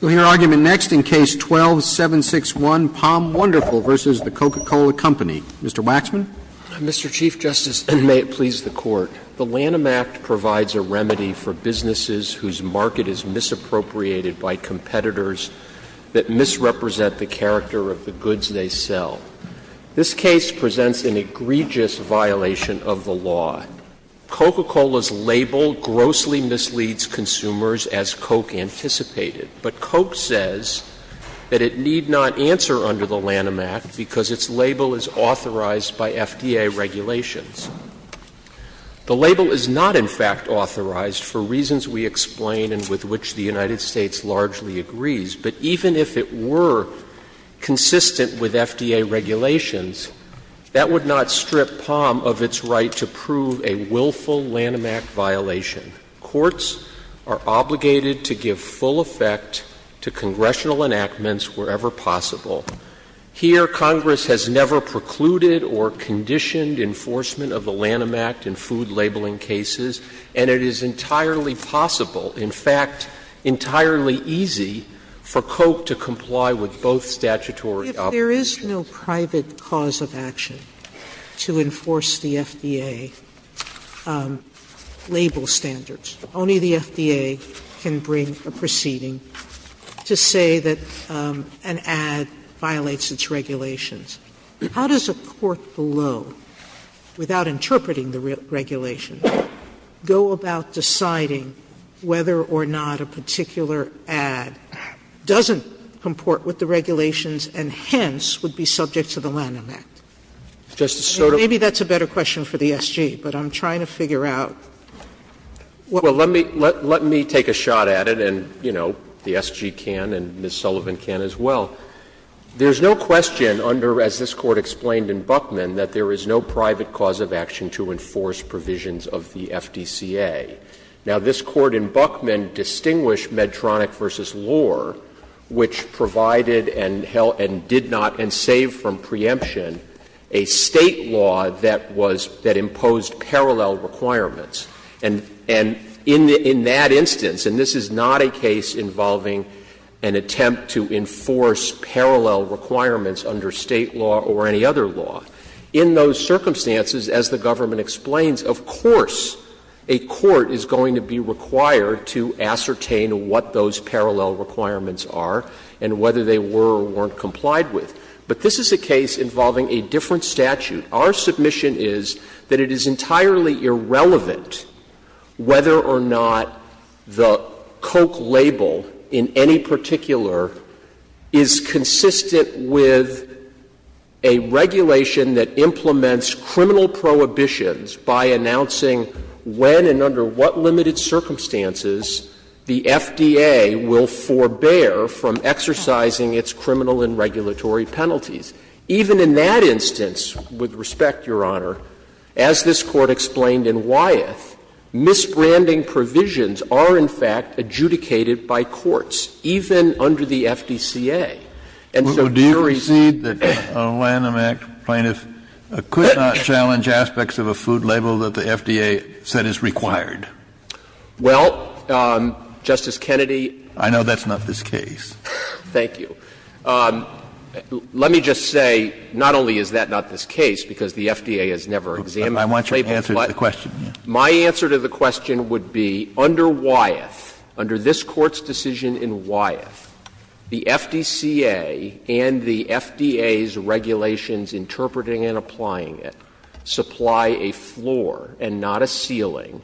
We'll hear argument next in Case 12-761, POM Wonderful v. The Coca-Cola Company. Mr. Waxman. Mr. Chief Justice, and may it please the Court, the Lanham Act provides a remedy for businesses whose market is misappropriated by competitors that misrepresent the character of the goods they sell. This case presents an egregious violation of the law. Coca-Cola's label grossly misleads consumers, as Koch anticipated. But Koch says that it need not answer under the Lanham Act because its label is authorized by FDA regulations. The label is not, in fact, authorized for reasons we explain and with which the United States largely agrees. But even if it were consistent with FDA regulations, that would not strip POM of its right to prove a willful Lanham Act violation. Courts are obligated to give full effect to congressional enactments wherever possible. Here, Congress has never precluded or conditioned enforcement of the Lanham Act in food labeling cases, and it is entirely possible, in fact, entirely easy for Koch to comply with both statutory obligations. Sotomayor, there is no private cause of action to enforce the FDA label standards. Only the FDA can bring a proceeding to say that an ad violates its regulations. How does a court below, without interpreting the regulations, go about deciding whether or not a particular ad doesn't comport with the regulations and hence would be subject to the Lanham Act? Maybe that's a better question for the SG, but I'm trying to figure out what the SGA can do. Roberts, Well, let me take a shot at it, and, you know, the SG can and Ms. Sullivan can as well. There's no question under, as this Court explained in Buckman, that there is no private cause of action to enforce provisions of the FDCA. Now, this Court in Buckman distinguished Medtronic v. Lohr, which provided and held and did not, and saved from preemption, a State law that was, that imposed parallel requirements. And in that instance, and this is not a case involving an attempt to enforce parallel requirements under State law or any other law, in those circumstances, as the government explains, of course, a court is going to be required to ascertain what those parallel requirements are and whether they were or weren't complied with. But this is a case involving a different statute. Our submission is that it is entirely irrelevant whether or not the Koch label in any prohibitions by announcing when and under what limited circumstances the FDA will forbear from exercising its criminal and regulatory penalties. Even in that instance, with respect, Your Honor, as this Court explained in Wyeth, misbranding provisions are, in fact, adjudicated by courts, even under the FDCA. And so here is the problem. Kennedy, I know that's not this case. Thank you. Let me just say, not only is that not this case, because the FDA has never examined the label, but my answer to the question would be under Wyeth, under this Court's decision in Wyeth, the FDCA and the FDA's regulations interpreting and applying it supply a floor and not a ceiling,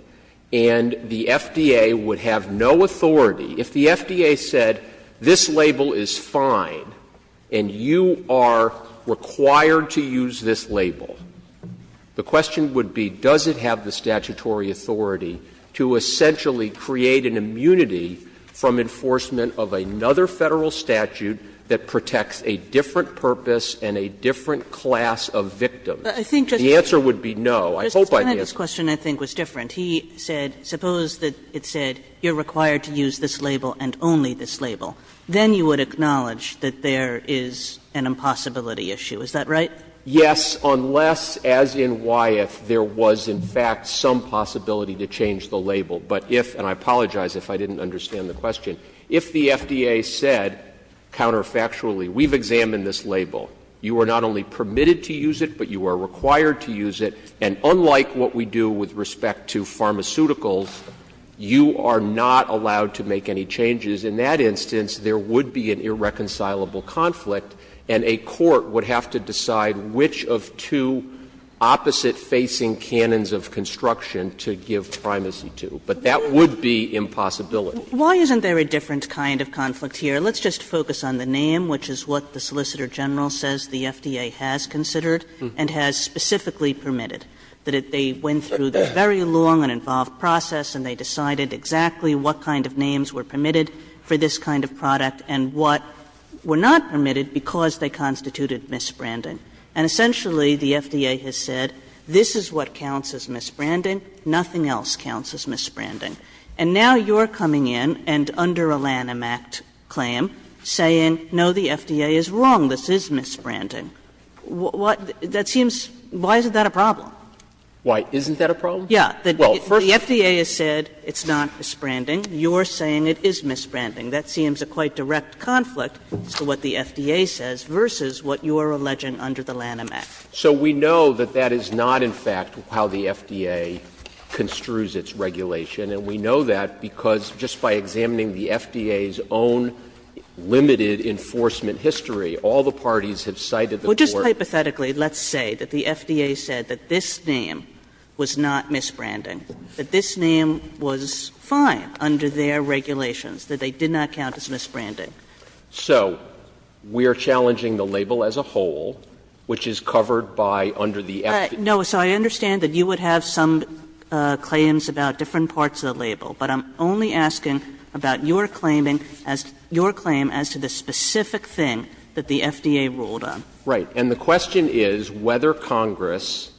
and the FDA would have no authority. If the FDA said, this label is fine and you are required to use this label, the question would be, does it have the statutory authority to essentially create an immunity from enforcement of another Federal statute that protects a different purpose and a different class of victim? The answer would be no. I hope I answered it. Kagan. Kagan. Kagan. I think Justice Kennedy's question, I think, was different. He said, suppose that it said, you are required to use this label and only this label. Then you would acknowledge that there is an impossibility issue, is that right? Yes, unless, as in Wyeth, there was, in fact, some possibility to change the label. But if, and I apologize if I didn't understand the question, if the FDA said counterfactually, we've examined this label, you are not only permitted to use it, but you are required to use it, and unlike what we do with respect to pharmaceuticals, you are not allowed to make any changes, in that instance, there would be an irreconcilable conflict and a court would have to decide which of two opposite-facing canons of construction to give primacy to. But that would be impossibility. Why isn't there a different kind of conflict here? Let's just focus on the name, which is what the Solicitor General says the FDA has considered and has specifically permitted, that they went through this very long and involved process and they decided exactly what kind of names were permitted for this kind of product and what were not permitted because they constituted misbranding. And essentially, the FDA has said, this is what counts as misbranding, nothing else counts as misbranding, and now you're coming in and under a Lanham Act claim saying, no, the FDA is wrong, this is misbranding. That seems — why isn't that a problem? Why isn't that a problem? Yeah, the FDA has said it's not misbranding, you're saying it is misbranding. That seems a quite direct conflict as to what the FDA says versus what you are alleging under the Lanham Act. So we know that that is not, in fact, how the FDA construes its regulation, and we know that because just by examining the FDA's own limited enforcement history, all the parties have cited the court. Kagan. Well, just hypothetically, let's say that the FDA said that this name was not misbranding, that this name was fine under their regulations, that they did not count as misbranding. So we are challenging the label as a whole, which is covered by under the FDA. Kagan. No, so I understand that you would have some claims about different parts of the label, but I'm only asking about your claiming as — your claim as to the specific thing that the FDA ruled on. Right. And the question is whether Congress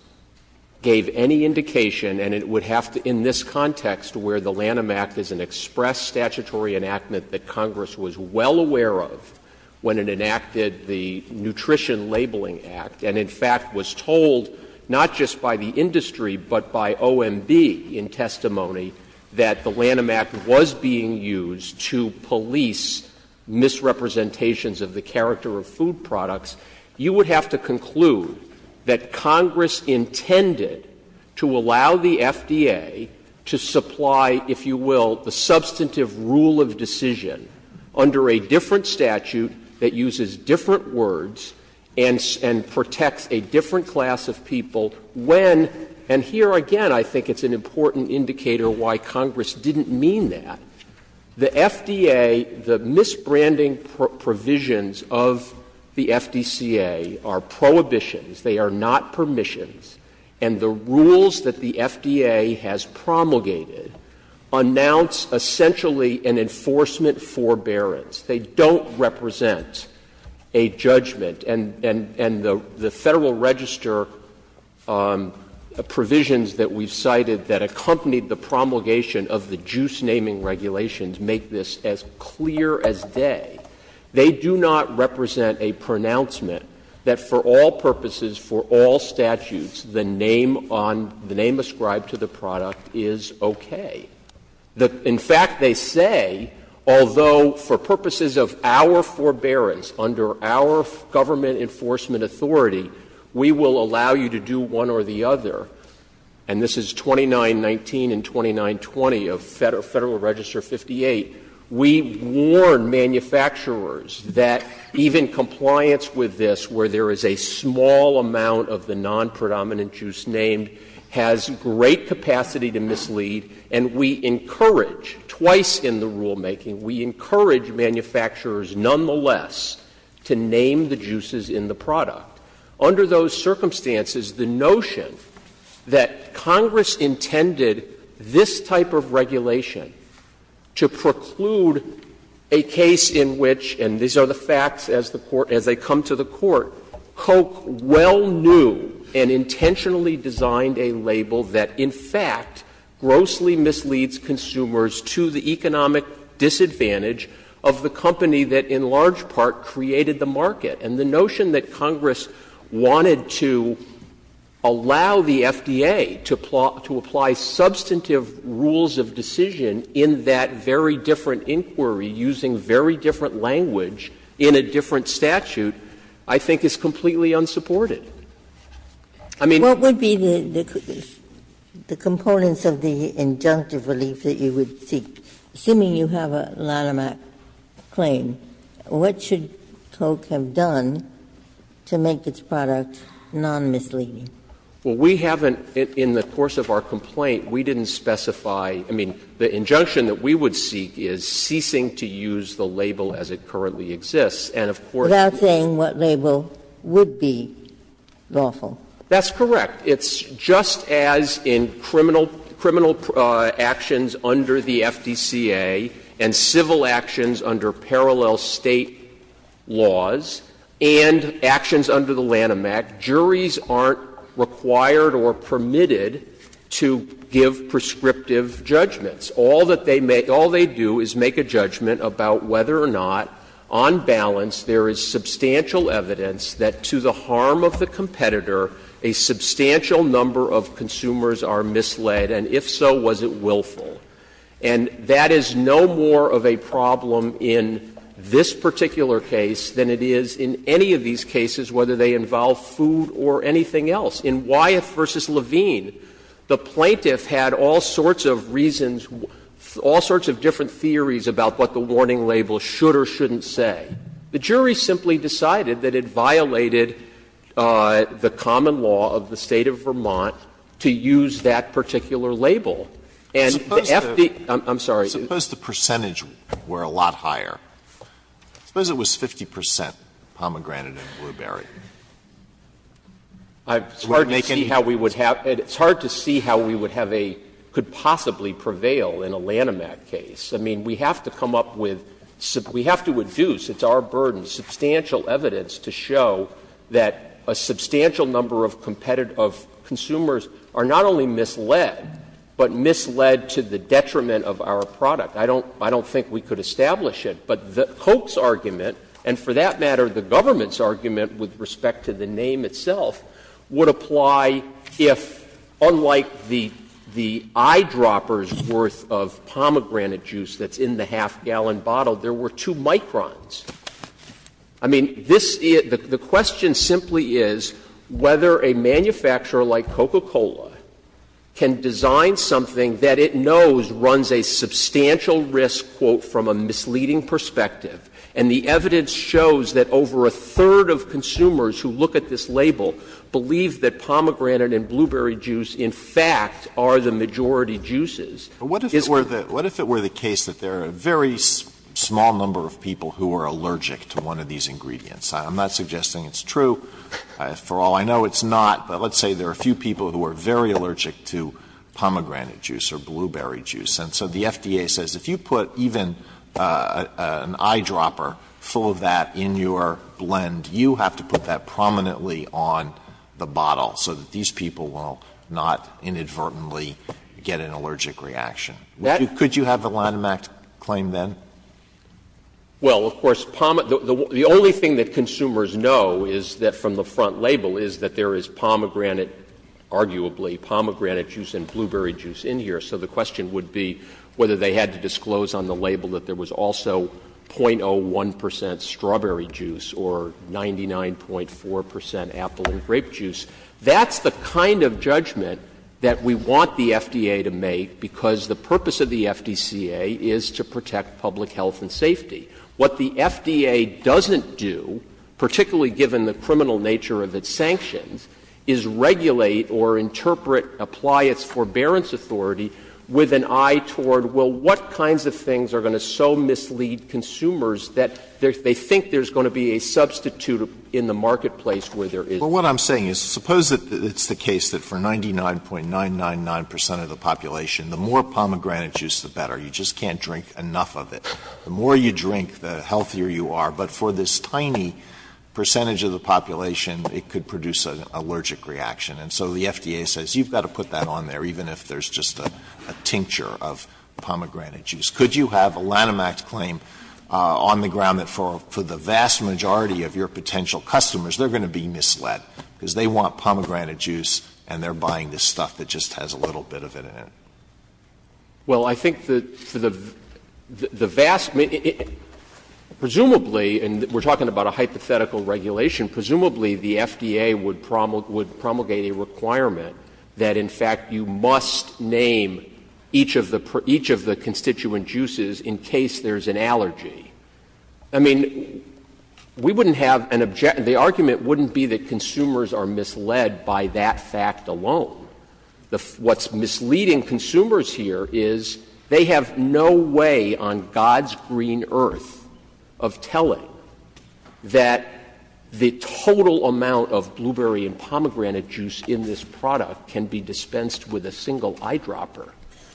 gave any indication, and it would have to in this context where the Lanham Act is an express statutory enactment that Congress was well aware of when it enacted the Nutrition Labeling Act, and in fact was told not just by the industry, but by OMB in testimony, that the Lanham Act was being used to police misrepresentations of the character of food products, you would have to conclude that Congress intended to allow the FDA to supply, if you will, the substantive rule of decision under a different statute that uses different words and protects a different class of people when, and here again I think it's an important indicator why Congress didn't mean that, the FDA, the misbranding provisions of the FDCA are prohibitions, they are not permissions, and the rules that the FDA has promulgated announce essentially an enforcement forbearance. They don't represent a judgment, and the Federal Register provisions that we've cited that accompanied the promulgation of the juice-naming regulations make this as clear as day. They do not represent a pronouncement that for all purposes, for all statutes, the name on, the name ascribed to the product is okay. In fact, they say, although for purposes of our forbearance, under our government enforcement authority, we will allow you to do one or the other, and this is 2919 and 2920 of Federal Register 58, we warn manufacturers that even compliance with this where there is a small amount of the non-predominant juice named has great capacity to mislead, and we encourage, twice in the rulemaking, we encourage manufacturers nonetheless to name the juices in the product. Under those circumstances, the notion that Congress intended this type of regulation to preclude a case in which, and these are the facts as the Court — as they come to the Court, Coke well knew and intentionally designed a label that, in fact, grossly misleads consumers to the economic disadvantage of the company that in large part created the market, and the notion that Congress wanted to allow the FDA to apply substantive rules of decision in that very different inquiry using very different language in a different statute, I think is completely unsupported. I mean — Ginsburg What would be the components of the injunctive relief that you would seek? Assuming you have a line-of-act claim, what should Coke have done to make its product non-misleading? Well, we haven't, in the course of our complaint, we didn't specify — I mean, the injunction that we would seek is ceasing to use the label as it currently exists, and of course — Without saying what label would be lawful. That's correct. It's just as in criminal — criminal actions under the FDCA and civil actions under parallel State laws, and actions under the Lanham Act, juries aren't required or permitted to give prescriptive judgments. All that they make — all they do is make a judgment about whether or not, on balance, there is substantial evidence that to the harm of the competitor, a substantial number of consumers are misled, and if so, was it willful. And that is no more of a problem in this particular case than it is in any of these cases, whether they involve food or anything else. In Wyeth v. Levine, the plaintiff had all sorts of reasons, all sorts of different theories about what the warning label should or shouldn't say. The jury simply decided that it violated the common law of the State of Vermont to use that particular label. And the FD — I'm sorry. Alitoso, suppose the percentage were a lot higher. Suppose it was 50 percent pomegranate and blueberry. Would it make any difference? It's hard to see how we would have a — could possibly prevail in a Lanham Act case. I mean, we have to come up with — we have to reduce, it's our burden, substantial evidence to show that a substantial number of competitors — of consumers are not only misled, but misled to the detriment of our product. I don't think we could establish it. But the Coates argument, and for that matter, the government's argument with respect to the name itself, would apply if, unlike the eyedropper's worth of pomegranate juice that's in the half-gallon bottle, there were two microns. I mean, this — the question simply is whether a manufacturer like Coca-Cola can design something that it knows runs a substantial risk, quote, from a misleading perspective. And the evidence shows that over a third of consumers who look at this label believe that pomegranate and blueberry juice, in fact, are the majority juices. Alitoso, what if it were the case that there are a very small number of people who are allergic to one of these ingredients? I'm not suggesting it's true. For all I know, it's not. But let's say there are a few people who are very allergic to pomegranate juice or blueberry juice. And so the FDA says if you put even an eyedropper full of that in your blend, you have to put that prominently on the bottle so that these people will not inadvertently get an allergic reaction. Could you have the Lanham Act claim then? Well, of course, the only thing that consumers know is that from the front label is that there is pomegranate, arguably, pomegranate juice and blueberry juice in here. So the question would be whether they had to disclose on the label that there was also 0.01 percent strawberry juice or 99.4 percent apple and grape juice. That's the kind of judgment that we want the FDA to make, because the purpose of the FDA is to regulate public health and safety. What the FDA doesn't do, particularly given the criminal nature of its sanctions, is regulate or interpret, apply its forbearance authority with an eye toward, well, what kinds of things are going to so mislead consumers that they think there's going to be a substitute in the marketplace where there is. Alitoso, what I'm saying is, suppose it's the case that for 99.999 percent of the population, the more you drink, the healthier you are, but for this tiny percentage of the population, it could produce an allergic reaction. And so the FDA says you've got to put that on there, even if there's just a tincture of pomegranate juice. Could you have a Lanham Act claim on the ground that for the vast majority of your potential customers, they're going to be misled, because they want pomegranate juice and they're buying this stuff that just has a little bit of it in it? Well, I think that for the vast majority, presumably, and we're talking about a hypothetical regulation, presumably the FDA would promulgate a requirement that, in fact, you must name each of the constituent juices in case there's an allergy. I mean, we wouldn't have an objection — the argument wouldn't be that consumers are misled by that fact alone. What's misleading consumers here is they have no way on God's green earth of telling that the total amount of blueberry and pomegranate juice in this product can be dispensed with a single eyedropper.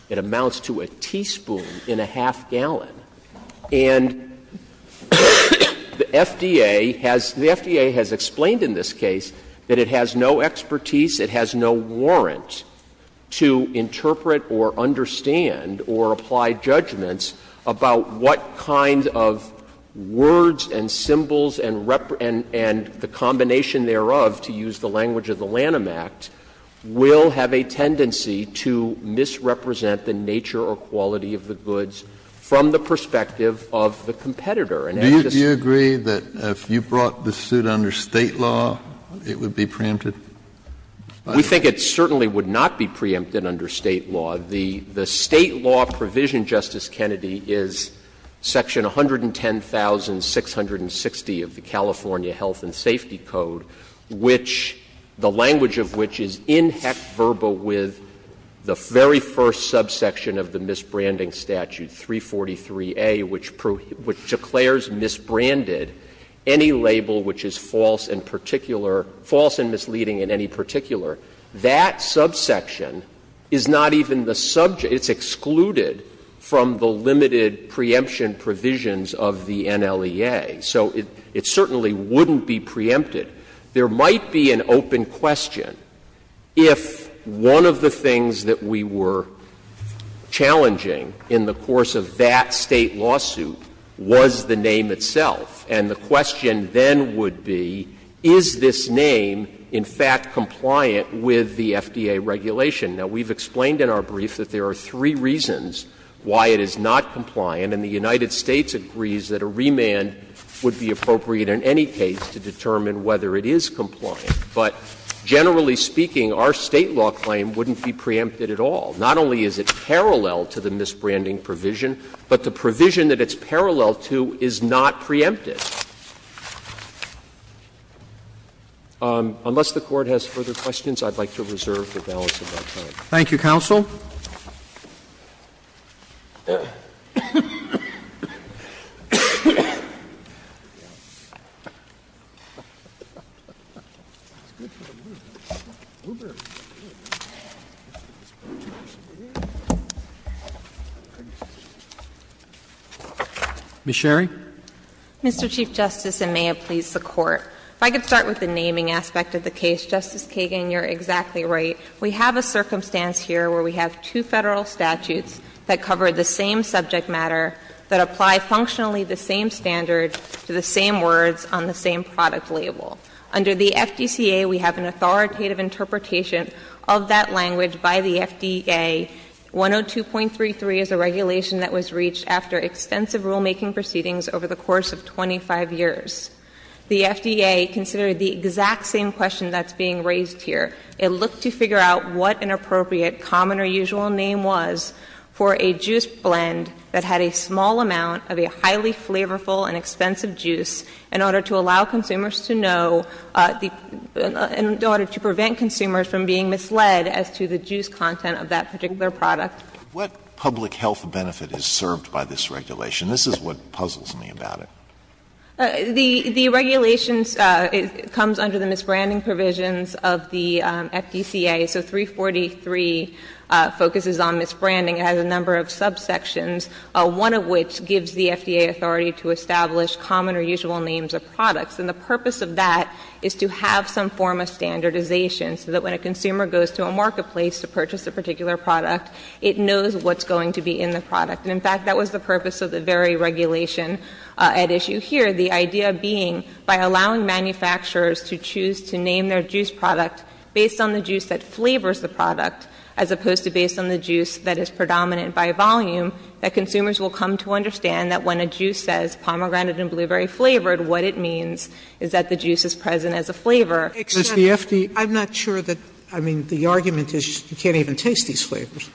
It amounts to a teaspoon in a half-gallon. And the FDA has — the FDA has explained in this case that it has no expertise, it has no warrant to interpret or understand or apply judgments about what kind of words and symbols and the combination thereof, to use the language of the Lanham Act, will have a tendency to misrepresent the nature or quality of the goods from the perspective of the competitor. And as this State law, it would be preempted? We think it certainly would not be preempted under State law. The State law provision, Justice Kennedy, is section 110,660 of the California Health and Safety Code, which — the language of which is in heck verba with the very first subsection of the misbranding statute, 343A, which declares misbranded any label which is false in particular — false and misleading in any particular. That subsection is not even the subject — it's excluded from the limited preemption provisions of the NLEA. So it certainly wouldn't be preempted. There might be an open question, if one of the things that we were challenging in the course of that State lawsuit was the name itself. And the question then would be, is this name, in fact, compliant with the FDA regulation? Now, we've explained in our brief that there are three reasons why it is not compliant. And the United States agrees that a remand would be appropriate in any case to determine whether it is compliant. But generally speaking, our State law claim wouldn't be preempted at all. Not only is it parallel to the misbranding provision, but the provision that it's parallel to is not preempted. Unless the Court has further questions, I'd like to reserve the balance of my time. Thank you, counsel. Ms. Sherry. Mr. Chief Justice, and may it please the Court. If I could start with the naming aspect of the case. Justice Kagan, you're exactly right. We have a circumstance here where we have two Federal statutes that cover the same subject matter, that apply functionally the same standard to the same words on the same product label. Under the FDCA, we have an authoritative interpretation of that language by the FDA. 102.33 is a regulation that was reached after extensive rulemaking proceedings over the course of 25 years. The FDA considered the exact same question that's being raised here. It looked to figure out what an appropriate common or usual name was for a juice blend that had a small amount of a highly flavorful and expensive juice in order to allow consumers to know, in order to prevent consumers from being misled as to the juice content of that particular product. What public health benefit is served by this regulation? This is what puzzles me about it. The regulation comes under the misbranding provisions of the FDCA. So 343 focuses on misbranding. It has a number of subsections, one of which gives the FDA authority to establish common or usual names of products. And the purpose of that is to have some form of standardization so that when a consumer goes to a marketplace to purchase a particular product, it knows what's going to be in the product. And, in fact, that was the purpose of the very regulation at issue here, the idea being by allowing manufacturers to choose to name their juice product based on the juice that flavors the product, as opposed to based on the juice that is predominant by volume, that consumers will come to understand that when a juice says pomegranate and blueberry flavored, what it means is that the juice is present as a flavor. Sotomayor, I'm not sure that, I mean, the argument is you can't even taste these flavors.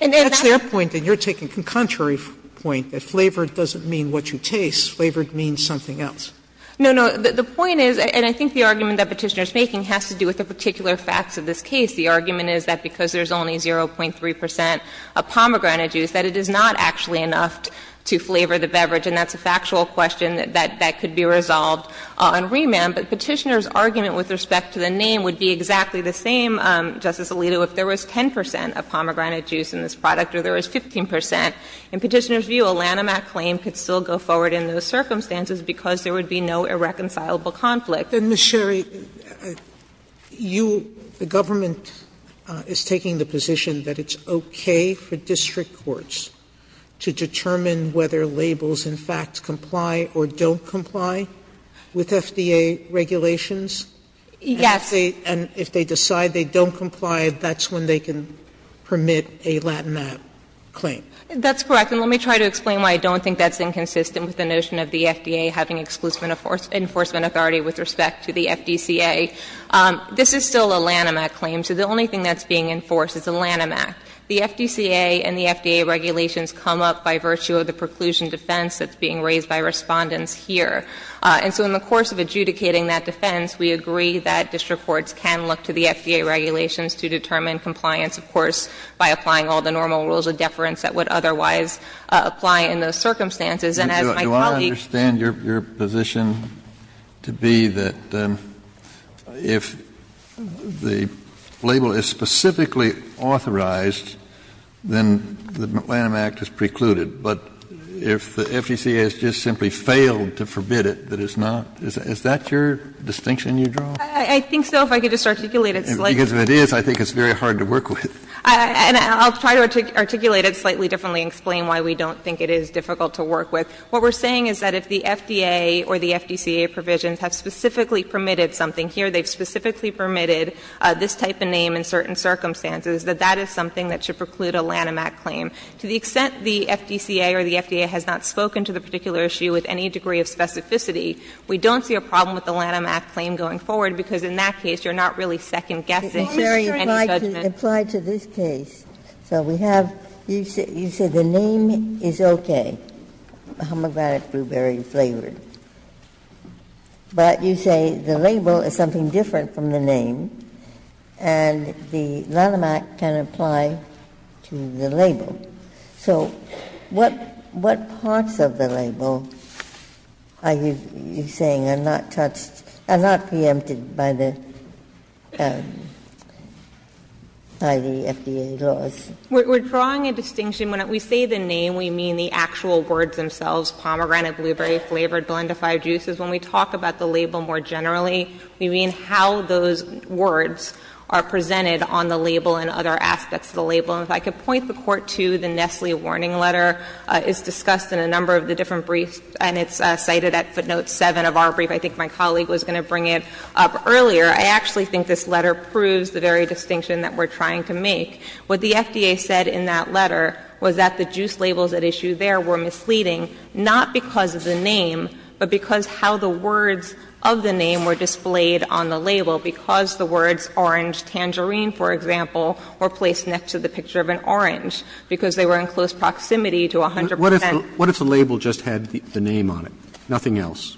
And that's their point, and you're taking a contrary point, that flavored doesn't mean what you taste. Flavored means something else. No, no. The point is, and I think the argument that Petitioner is making has to do with the particular facts of this case. The argument is that because there's only 0.3 percent of pomegranate juice, that it is not actually enough to flavor the beverage. And that's a factual question that could be resolved on remand. But Petitioner's argument with respect to the name would be exactly the same, Justice Sotomayor, that there is 0.3 percent of pomegranate juice in this product, or there is 15 percent. In Petitioner's view, a Lanham Act claim could still go forward in those circumstances because there would be no irreconcilable conflict. Sotomayor, you the government is taking the position that it's okay for district courts to determine whether labels, in fact, comply or don't comply with FDA regulations? Yes. And if they decide they don't comply, that's when they can permit a Lanham Act claim? That's correct. And let me try to explain why I don't think that's inconsistent with the notion of the FDA having exclusive enforcement authority with respect to the FDCA. This is still a Lanham Act claim, so the only thing that's being enforced is a Lanham Act. The FDCA and the FDA regulations come up by virtue of the preclusion defense that's being raised by Respondents here. And so in the course of adjudicating that defense, we agree that district courts can look to the FDA regulations to determine compliance, of course, by applying all the normal rules of deference that would otherwise apply in those circumstances. And as my colleague said, the FDCA is not going to permit a Lanham Act claim if it doesn't Is that your distinction you draw? I think so, if I could just articulate it slightly. Because if it is, I think it's very hard to work with. And I'll try to articulate it slightly differently and explain why we don't think it is difficult to work with. What we're saying is that if the FDA or the FDCA provisions have specifically permitted something, here they've specifically permitted this type of name in certain circumstances, that that is something that should preclude a Lanham Act claim. To the extent the FDCA or the FDA has not spoken to the particular issue with any degree of specificity, we don't see a problem with the Lanham Act claim going forward, because in that case, you're not really second-guessing any judgment. Ginsburg, if I could apply to this case. So we have you say the name is okay, homographic, blueberry-flavored. But you say the label is something different from the name, and the Lanham Act can apply to the label. So what parts of the label are you saying are not touched, are not preempted by the FDA laws? We're drawing a distinction. When we say the name, we mean the actual words themselves, pomegranate, blueberry-flavored, blendified juices. When we talk about the label more generally, we mean how those words are presented on the label and other aspects of the label. And if I could point the Court to the Nestle warning letter. It's discussed in a number of the different briefs, and it's cited at footnote 7 of our brief. I think my colleague was going to bring it up earlier. I actually think this letter proves the very distinction that we're trying to make. What the FDA said in that letter was that the juice labels at issue there were misleading not because of the name, but because how the words of the name were displayed on the label. Because the words orange tangerine, for example, were placed next to the picture of an orange, because they were in close proximity to 100 percent. Roberts What if the label just had the name on it, nothing else?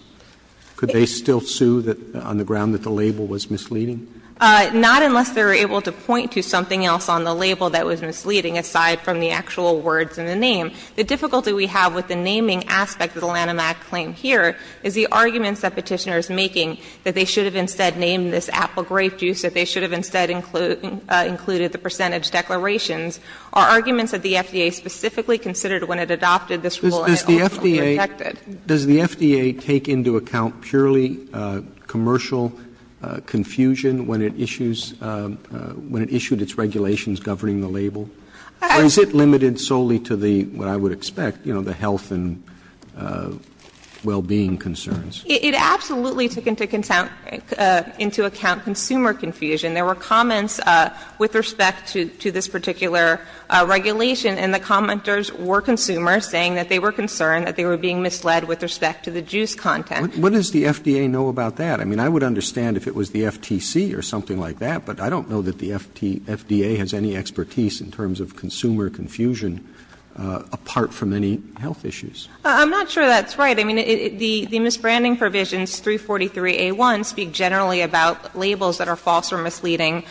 Could they still sue on the ground that the label was misleading? Not unless they were able to point to something else on the label that was misleading aside from the actual words in the name. The difficulty we have with the naming aspect of the Lanham Act claim here is the Apple grape juice, that they should have instead included the percentage declarations. Are arguments that the FDA specifically considered when it adopted this rule and also rejected? Roberts Does the FDA take into account purely commercial confusion when it issues, when it issued its regulations governing the label? Or is it limited solely to the, what I would expect, you know, the health and well-being concerns? It absolutely took into account consumer confusion. There were comments with respect to this particular regulation, and the commenters were consumers, saying that they were concerned that they were being misled with respect to the juice content. Roberts What does the FDA know about that? I mean, I would understand if it was the FTC or something like that, but I don't know that the FDA has any expertise in terms of consumer confusion apart from any health issues. I'm not sure that's right. I mean, the misbranding provisions 343A1 speak generally about labels that are false or misleading in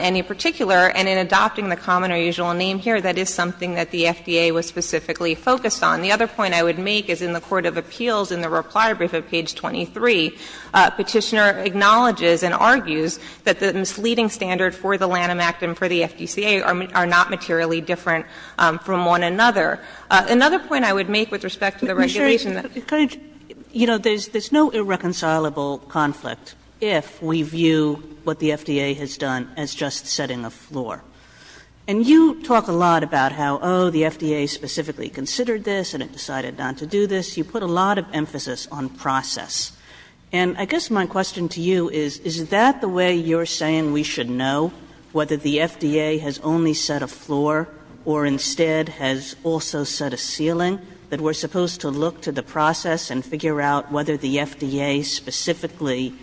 any particular, and in adopting the common or usual name here, that is something that the FDA was specifically focused on. The other point I would make is in the court of appeals in the reply brief at page 23, Petitioner acknowledges and argues that the misleading standard for the Lanham Act and for the FDCA are not materially different from one another. Kagan You know, there's no irreconcilable conflict if we view what the FDA has done as just setting a floor. And you talk a lot about how, oh, the FDA specifically considered this and it decided not to do this. You put a lot of emphasis on process. And I guess my question to you is, is that the way you're saying we should know whether the FDA has only set a floor or instead has also set a ceiling, that we're supposed to look to the process and figure out whether the FDA specifically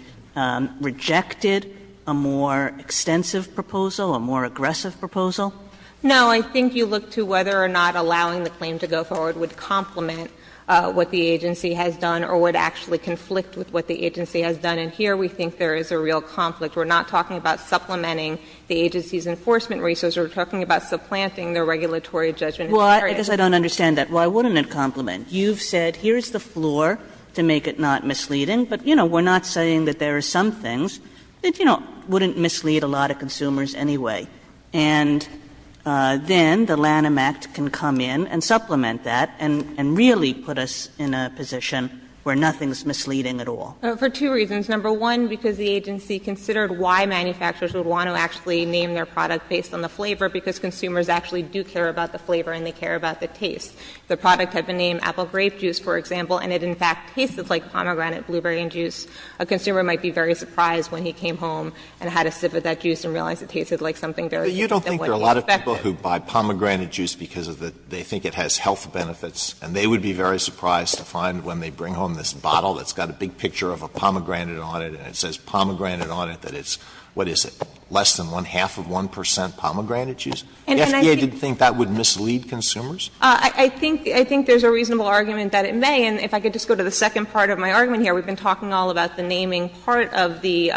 rejected a more extensive proposal, a more aggressive proposal? Sherry No. I think you look to whether or not allowing the claim to go forward would complement what the agency has done or would actually conflict with what the agency has done. And here we think there is a real conflict. We're not talking about supplementing the agency's enforcement resources. We're talking about supplanting the regulatory judgment. Kagan Well, I guess I don't understand that. Why wouldn't it complement? You've said here's the floor to make it not misleading, but, you know, we're not saying that there are some things that, you know, wouldn't mislead a lot of consumers anyway. And then the Lanham Act can come in and supplement that and really put us in a position where nothing is misleading at all. Sherry For two reasons. Number one, because the agency considered why manufacturers would want to actually name their product based on the flavor, because consumers actually do care about the flavor and they care about the taste. The product had been named apple grape juice, for example, and it in fact tasted like pomegranate blueberry juice. A consumer might be very surprised when he came home and had a sip of that juice and realized it tasted like something very different than what he expected. Alito But you don't think there are a lot of people who buy pomegranate juice because of the they think it has health benefits and they would be very surprised to find when they bring home this bottle that's got a big picture of a pomegranate on it and it says pomegranate on it that it's, what is it, less than one-half of 1 percent pomegranate juice? The FDA didn't think that would mislead consumers? I think there's a reasonable argument that it may, and if I could just go to the second part of my argument here. We've been talking all about the naming part of the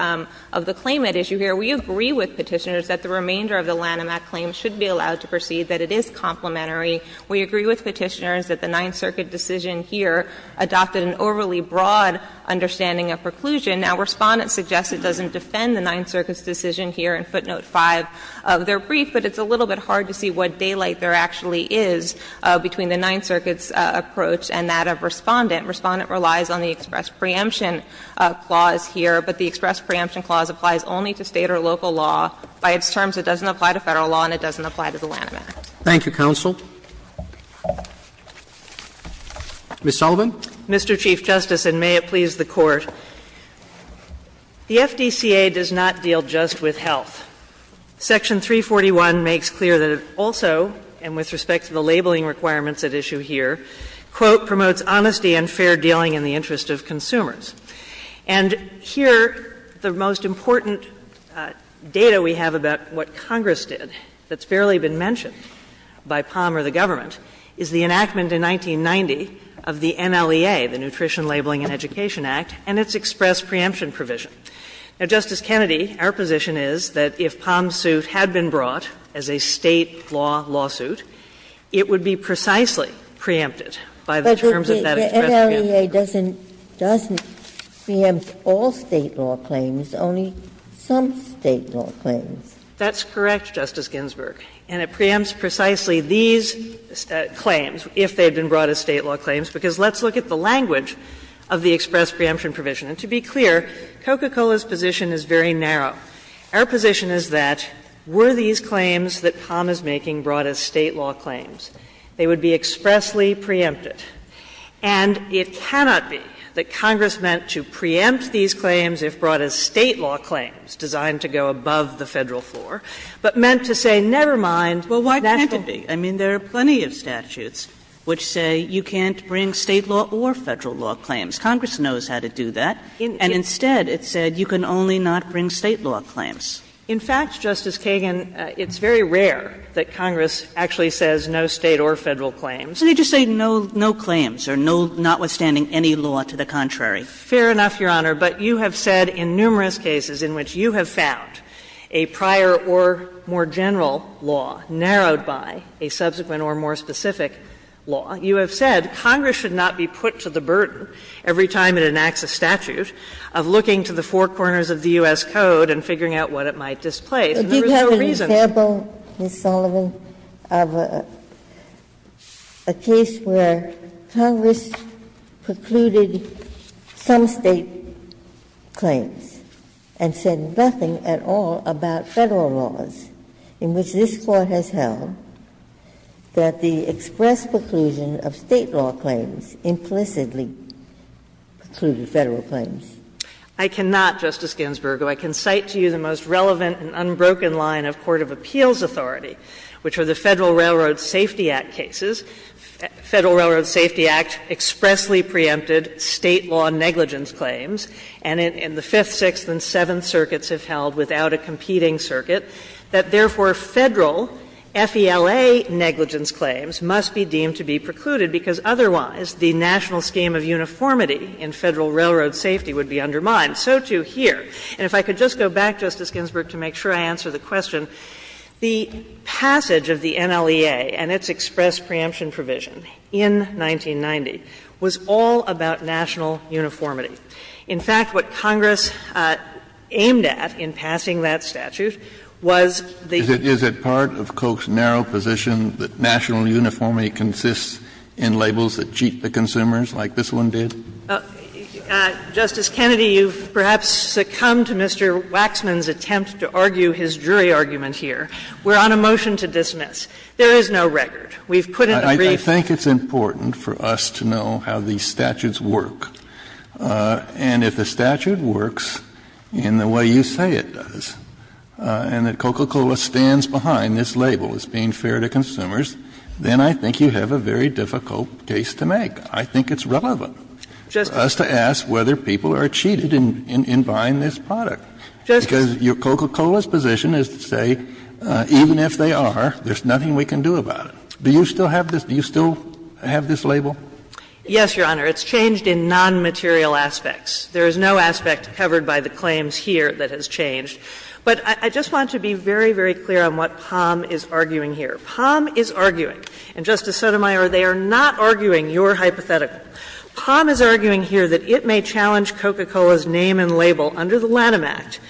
claimant issue here. We agree with Petitioners that the remainder of the Lanham Act claim should be allowed to proceed, that it is complementary. We agree with Petitioners that the Ninth Circuit decision here adopted an overly broad understanding of preclusion. Now, Respondent suggests it doesn't defend the Ninth Circuit's decision here in footnote 5 of their brief, but it's a little bit hard to see what daylight there actually is between the Ninth Circuit's approach and that of Respondent. Respondent relies on the express preemption clause here, but the express preemption clause applies only to State or local law. By its terms, it doesn't apply to Federal law and it doesn't apply to the Lanham Act. Roberts. Thank you, counsel. Ms. Sullivan. Mr. Chief Justice, and may it please the Court, the FDCA does not deal just with health. Section 341 makes clear that it also, and with respect to the labeling requirements at issue here, quote, ''promotes honesty and fair dealing in the interest of consumers.'' And here, the most important data we have about what Congress did that's barely been mentioned by POM or the government is the enactment in 1990 of the NLEA, the Nutrition, Labeling, and Education Act, and its express preemption provision. Now, Justice Kennedy, our position is that if POM's suit had been brought as a State law lawsuit, it would be precisely preempted by the terms of that express preemption. But the NLEA doesn't preempt all State law claims, only some State law claims. That's correct, Justice Ginsburg. And it preempts precisely these claims, if they had been brought as State law claims, because let's look at the language of the express preemption provision. And to be clear, Coca-Cola's position is very narrow. Our position is that were these claims that POM is making brought as State law claims, they would be expressly preempted. And it cannot be that Congress meant to preempt these claims if brought as State law claims designed to go above the Federal floor, but meant to say never mind national law. Kagan. Kagan. I mean, there are plenty of statutes which say you can't bring State law or Federal law claims. Congress knows how to do that. And instead, it said you can only not bring State law claims. In fact, Justice Kagan, it's very rare that Congress actually says no State or Federal claims. They just say no claims or notwithstanding any law to the contrary. Fair enough, Your Honor, but you have said in numerous cases in which you have found a prior or more general law narrowed by a subsequent or more specific law, you have said Congress should not be put to the burden every time it enacts a statute of looking to the four corners of the U.S. Code and figuring out what it might displace. And there is no reason to do that. Ginsburg. But you have an example, Ms. Sullivan, of a case where Congress precluded some State claims and said nothing at all about Federal laws in which this Court has held that the express preclusion of State law claims implicitly precluded Federal claims. Sullivan. I cannot, Justice Ginsburg, who I can cite to you the most relevant and unbroken line of court of appeals authority, which are the Federal Railroad Safety Act cases. Federal Railroad Safety Act expressly preempted State law negligence claims, and in the Fifth, Sixth, and Seventh circuits have held without a competing circuit that, therefore, Federal FELA negligence claims must be deemed to be precluded, because otherwise the national scheme of uniformity in Federal railroad safety would be undermined. So, too, here. And if I could just go back, Justice Ginsburg, to make sure I answer the question, the passage of the NLEA and its express preemption provision in 1990 was all about national uniformity. In fact, what Congress aimed at in passing that statute was the uniformity of the State. Kennedy. Is it part of Koch's narrow position that national uniformity consists in labels that cheat the consumers, like this one did? Justice Kennedy, you've perhaps succumbed to Mr. Waxman's attempt to argue his jury argument here. We're on a motion to dismiss. There is no record. We've put it in the brief. Kennedy, I think it's important for us to know how these statutes work. And if the statute works in the way you say it does, and that Coca-Cola stands behind this label as being fair to consumers, then I think you have a very difficult case to make. I think it's relevant for us to ask whether people are cheated in buying this product. Because Coca-Cola's position is to say, even if they are, there's nothing we can do about it. Do you still have this? Do you still have this label? Yes, Your Honor. It's changed in nonmaterial aspects. There is no aspect covered by the claims here that has changed. But I just want to be very, very clear on what Palm is arguing here. Palm is arguing, and Justice Sotomayor, they are not arguing your hypothetical. Palm is arguing here that it may challenge Coca-Cola's name and label under the Lanham Act,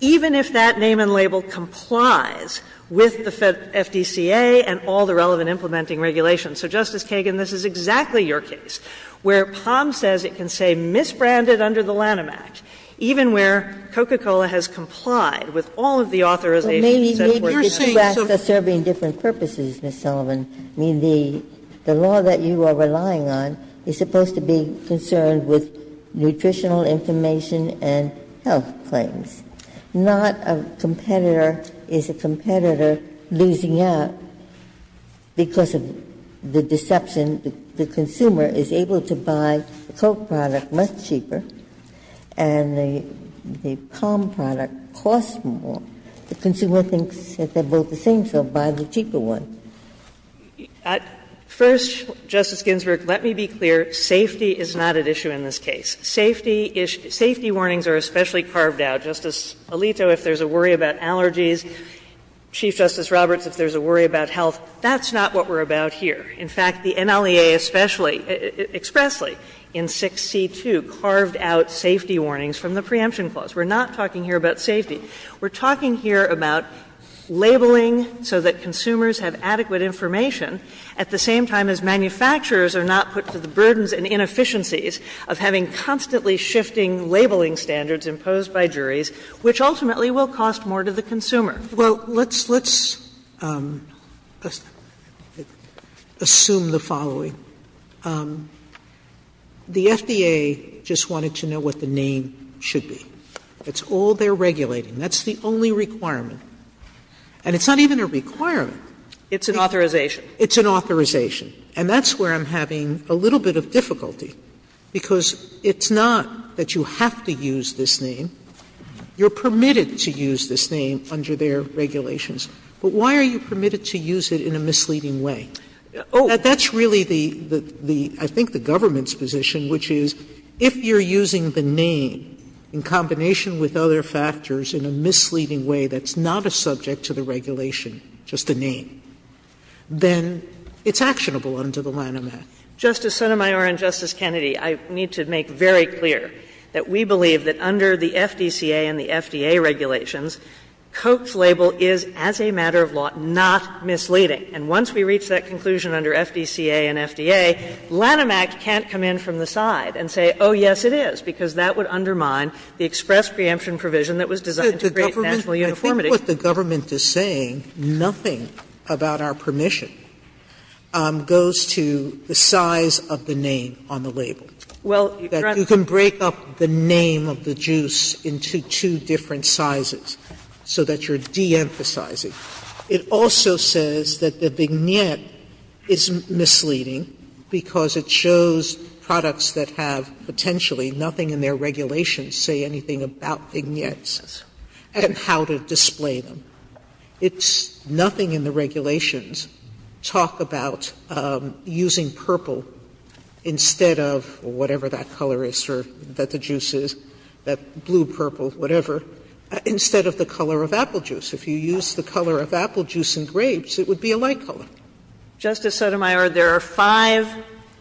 even if that name and label complies with the FDCA and all the relevant implementing regulations. So, Justice Kagan, this is exactly your case, where Palm says it can say misbranded under the Lanham Act, even where Coca-Cola has complied with all of the authorizations set forth in the statute. Ginsburg. Maybe the two acts are serving different purposes, Ms. Sullivan. I mean, the law that you are relying on is supposed to be concerned with nutritional information and health claims. Not a competitor is a competitor losing out because of the deception that the consumer is able to buy the Coke product much cheaper, and the Palm product costs more. The consumer thinks that they are both the same, so buy the cheaper one. Sullivan. First, Justice Ginsburg, let me be clear, safety is not at issue in this case. Safety is — safety warnings are especially carved out. Justice Alito, if there is a worry about allergies, Chief Justice Roberts, if there is a worry about health, that's not what we are about here. In fact, the NLEA especially, expressly, in 6C2 carved out safety warnings from the preemption clause. We are not talking here about safety. We are talking here about labeling so that consumers have adequate information at the same time as manufacturers are not put to the burdens and inefficiencies of having constantly shifting labeling standards imposed by juries, which ultimately will cost more to the consumer. Sotomayor Well, let's assume the following. The FDA just wanted to know what the name should be. It's all they are regulating. That's the only requirement. And it's not even a requirement. It's an authorization. It's an authorization. And that's where I'm having a little bit of difficulty, because it's not that you have to use this name. You are permitted to use this name under their regulations. But why are you permitted to use it in a misleading way? That's really the — I think the government's position, which is if you are using the name in combination with other factors in a misleading way that's not a subject to the regulation, just the name, then it's actionable under the Lanham Act. Kagan Justice Sotomayor and Justice Kennedy, I need to make very clear that we believe that under the FDCA and the FDA regulations, Koch's label is, as a matter of law, not misleading. And once we reach that conclusion under FDCA and FDA, Lanham Act can't come in from the side and say, oh, yes, it is, because that would undermine the express preemption provision that was designed to create national uniformity. Sotomayor, I think what the government is saying, nothing about our permission goes to the size of the name on the label. You can break up the name of the juice into two different sizes so that you are de-emphasizing. It also says that the vignette is misleading because it shows products that have potentially nothing in their regulations say anything about vignettes and how to display them. It's nothing in the regulations. Talk about using purple instead of whatever that color is, or that the juice is, that blue, purple, whatever, instead of the color of apple juice. If you use the color of apple juice and grapes, it would be a light color. Justice Sotomayor, there are five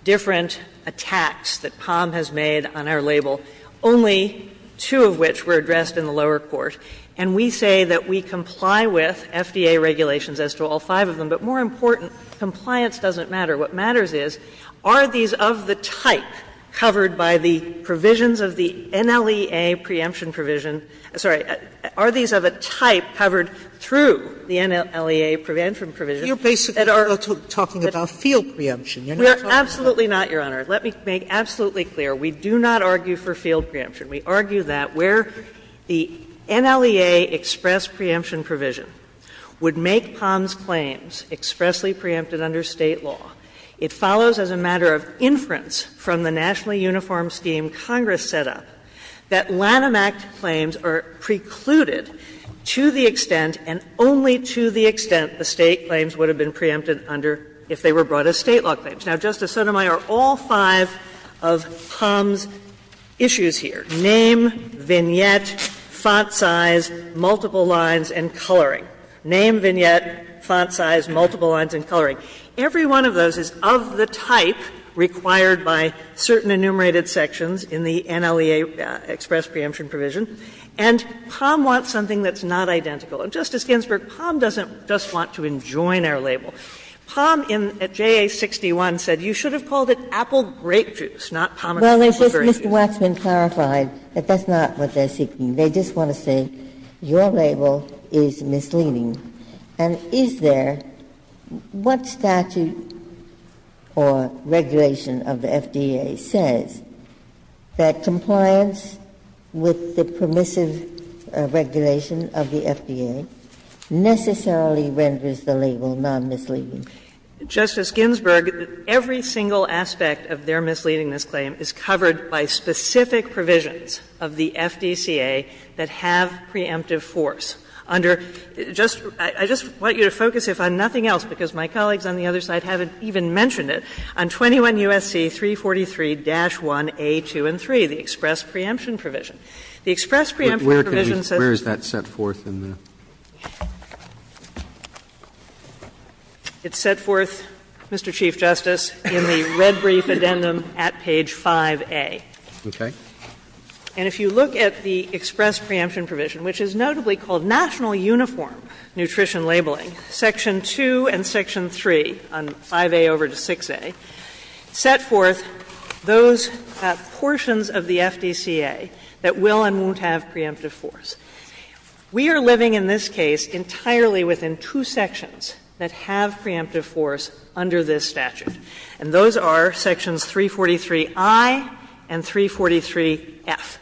different attacks that Palm has made on our label, only two of which were addressed in the lower court. And we say that we comply with FDA regulations as to all five of them. But more important, compliance doesn't matter. What matters is, are these of the type covered by the provisions of the NLEA preemption provision — sorry, are these of a type covered through the NLEA prevention provision that are— Sotomayor, you are basically talking about field preemption. You are not talking about— We are absolutely not, Your Honor. Let me make absolutely clear, we do not argue for field preemption. We argue that where the NLEA express preemption provision would make Palm's claims expressly preempted under State law, it follows as a matter of inference from the nationally uniform scheme Congress set up that Lanham Act claims are precluded to the extent and only to the extent the State claims would have been preempted under if they were brought as State law claims. Now, Justice Sotomayor, all five of Palm's issues here, name, vignette, font size, multiple lines, and coloring. Name, vignette, font size, multiple lines, and coloring. Every one of those is of the type required by certain enumerated sections in the NLEA express preemption provision, and Palm wants something that's not identical. And, Justice Ginsburg, Palm doesn't just want to enjoin our label. Palm in JA-61 said you should have called it apple grape juice, not pomegranate Ginsburg-Ginsburg Well, Mr. Waxman clarified that that's not what they're seeking. They just want to say your label is misleading. And is there what statute or regulation of the FDA says that compliance with the permissive regulation of the FDA necessarily renders the label non-misleading? Justice Ginsburg, every single aspect of their misleadingness claim is covered by specific provisions of the FDCA that have preemptive force. Under just the express preemption provision, the express preemption provision is not a preemptive force. Where is that set forth in the? It's set forth, Mr. Chief Justice, in the red brief addendum at page 5A. Okay. And if you look at the express preemption provision, which is notably called national uniform nutrition labeling, section 2 and section 3 on 5A over to 6A, set forth those portions of the FDCA that will and won't have preemptive force. We are living in this case entirely within two sections that have preemptive force under this statute, and those are sections 343i and 343f.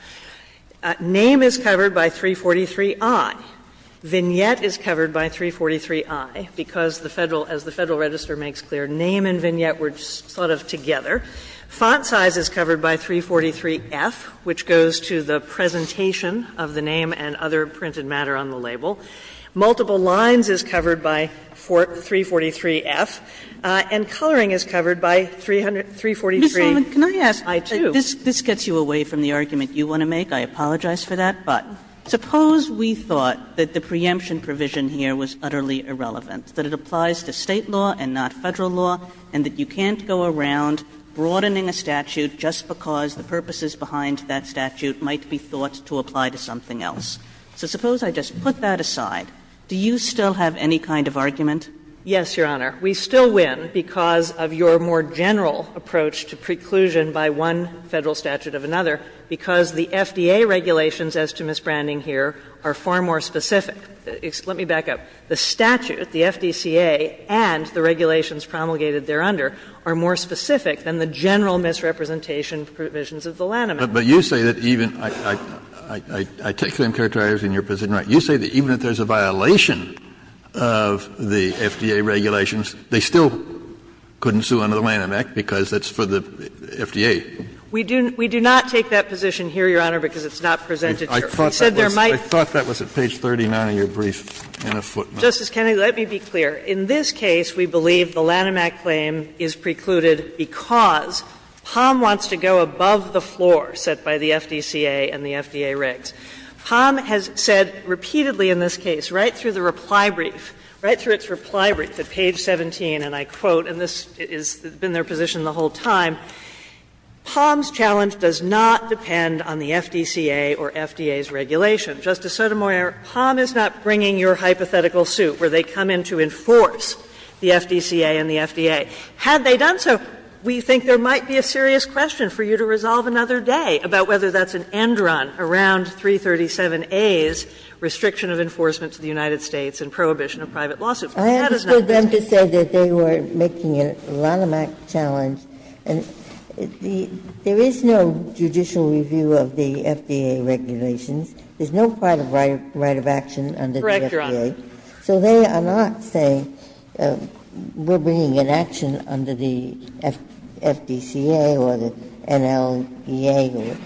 Name is covered by 343i. Vignette is covered by 343i, because the Federal, as the Federal Register makes clear, name and vignette were sort of together. Font size is covered by 343f, which goes to the presentation of the name and other printed matter on the label. Multiple lines is covered by 343f. And coloring is covered by 343i, too. Kagan Can I ask you, this gets you away from the argument you want to make. I apologize for that. But suppose we thought that the preemption provision here was utterly irrelevant, that it applies to State law and not Federal law, and that you can't go around broadening a statute just because the purposes behind that statute might be thought to apply to something else. So suppose I just put that aside. Do you still have any kind of argument? Yes, Your Honor. We still win because of your more general approach to preclusion by one Federal statute of another, because the FDA regulations as to misbranding here are far more specific. Let me back up. The statute, the FDCA, and the regulations promulgated thereunder are more specific than the general misrepresentation provisions of the Lanham Act. But you say that even – I take the same character as in your position, right? You say that even if there's a violation of the FDA regulations, they still couldn't sue under the Lanham Act because it's for the FDA. We do not take that position here, Your Honor, because it's not presented here. I thought that was at page 39 of your brief. Justice Kennedy, let me be clear. In this case, we believe the Lanham Act claim is precluded because Palm wants to go above the floor set by the FDCA and the FDA regs. Palm has said repeatedly in this case, right through the reply brief, right through its reply brief at page 17, and I quote, and this has been their position the whole time, "...Palm's challenge does not depend on the FDCA or FDA's regulation. Justice Sotomayor, Palm is not bringing your hypothetical suit where they come in to enforce the FDCA and the FDA. Had they done so, we think there might be a serious question for you to resolve another day about whether that's an end run around 337A's restriction of enforcement to the United States and prohibition of private lawsuit." That is not the case. Ginsburg. I am for them to say that they were making a Lanham Act challenge. And the – there is no judicial review of the FDA regulations. There is no private right of action under the FDA. So they are not saying we are bringing an action under the FDCA or the NLEA.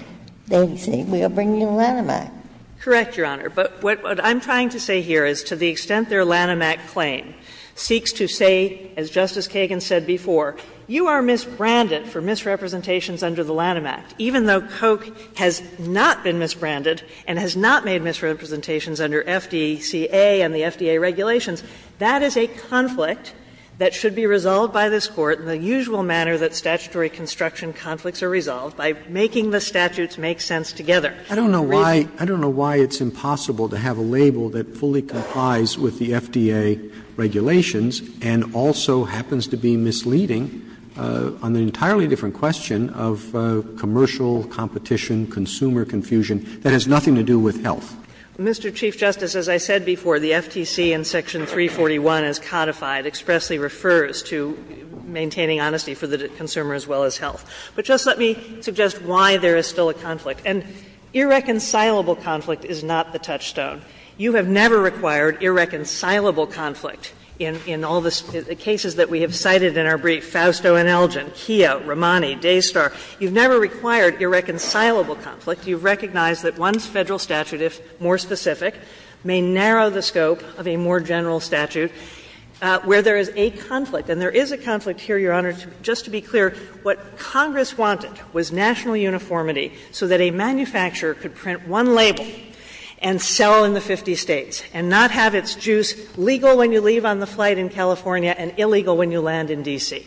They are saying we are bringing a Lanham Act. Correct, Your Honor. But what I'm trying to say here is to the extent their Lanham Act claim seeks to say, as Justice Kagan said before, you are misbranded for misrepresentations under the Lanham Act, even though Koch has not been misbranded and has not made misrepresentations under FDCA and the FDA regulations, that is a conflict that should be resolved by this Court in the usual manner that statutory construction conflicts are resolved, by making the statutes make sense together. I don't know why it's impossible to have a label that fully complies with the FDA regulations and also happens to be misleading on an entirely different question of commercial competition, consumer confusion, that has nothing to do with health. Mr. Chief Justice, as I said before, the FTC in section 341 as codified expressly refers to maintaining honesty for the consumer as well as health. But just let me suggest why there is still a conflict. And irreconcilable conflict is not the touchstone. You have never required irreconcilable conflict in all the cases that we have cited in our brief, Fausto and Elgin, Keogh, Romani, Dastar. You have never required irreconcilable conflict. You have recognized that one Federal statute, if more specific, may narrow the scope of a more general statute where there is a conflict. And there is a conflict here, Your Honor, just to be clear, what Congress wanted was national uniformity so that a manufacturer could print one label and sell in the 50 States and not have its juice legal when you leave on the flight in California and illegal when you land in D.C.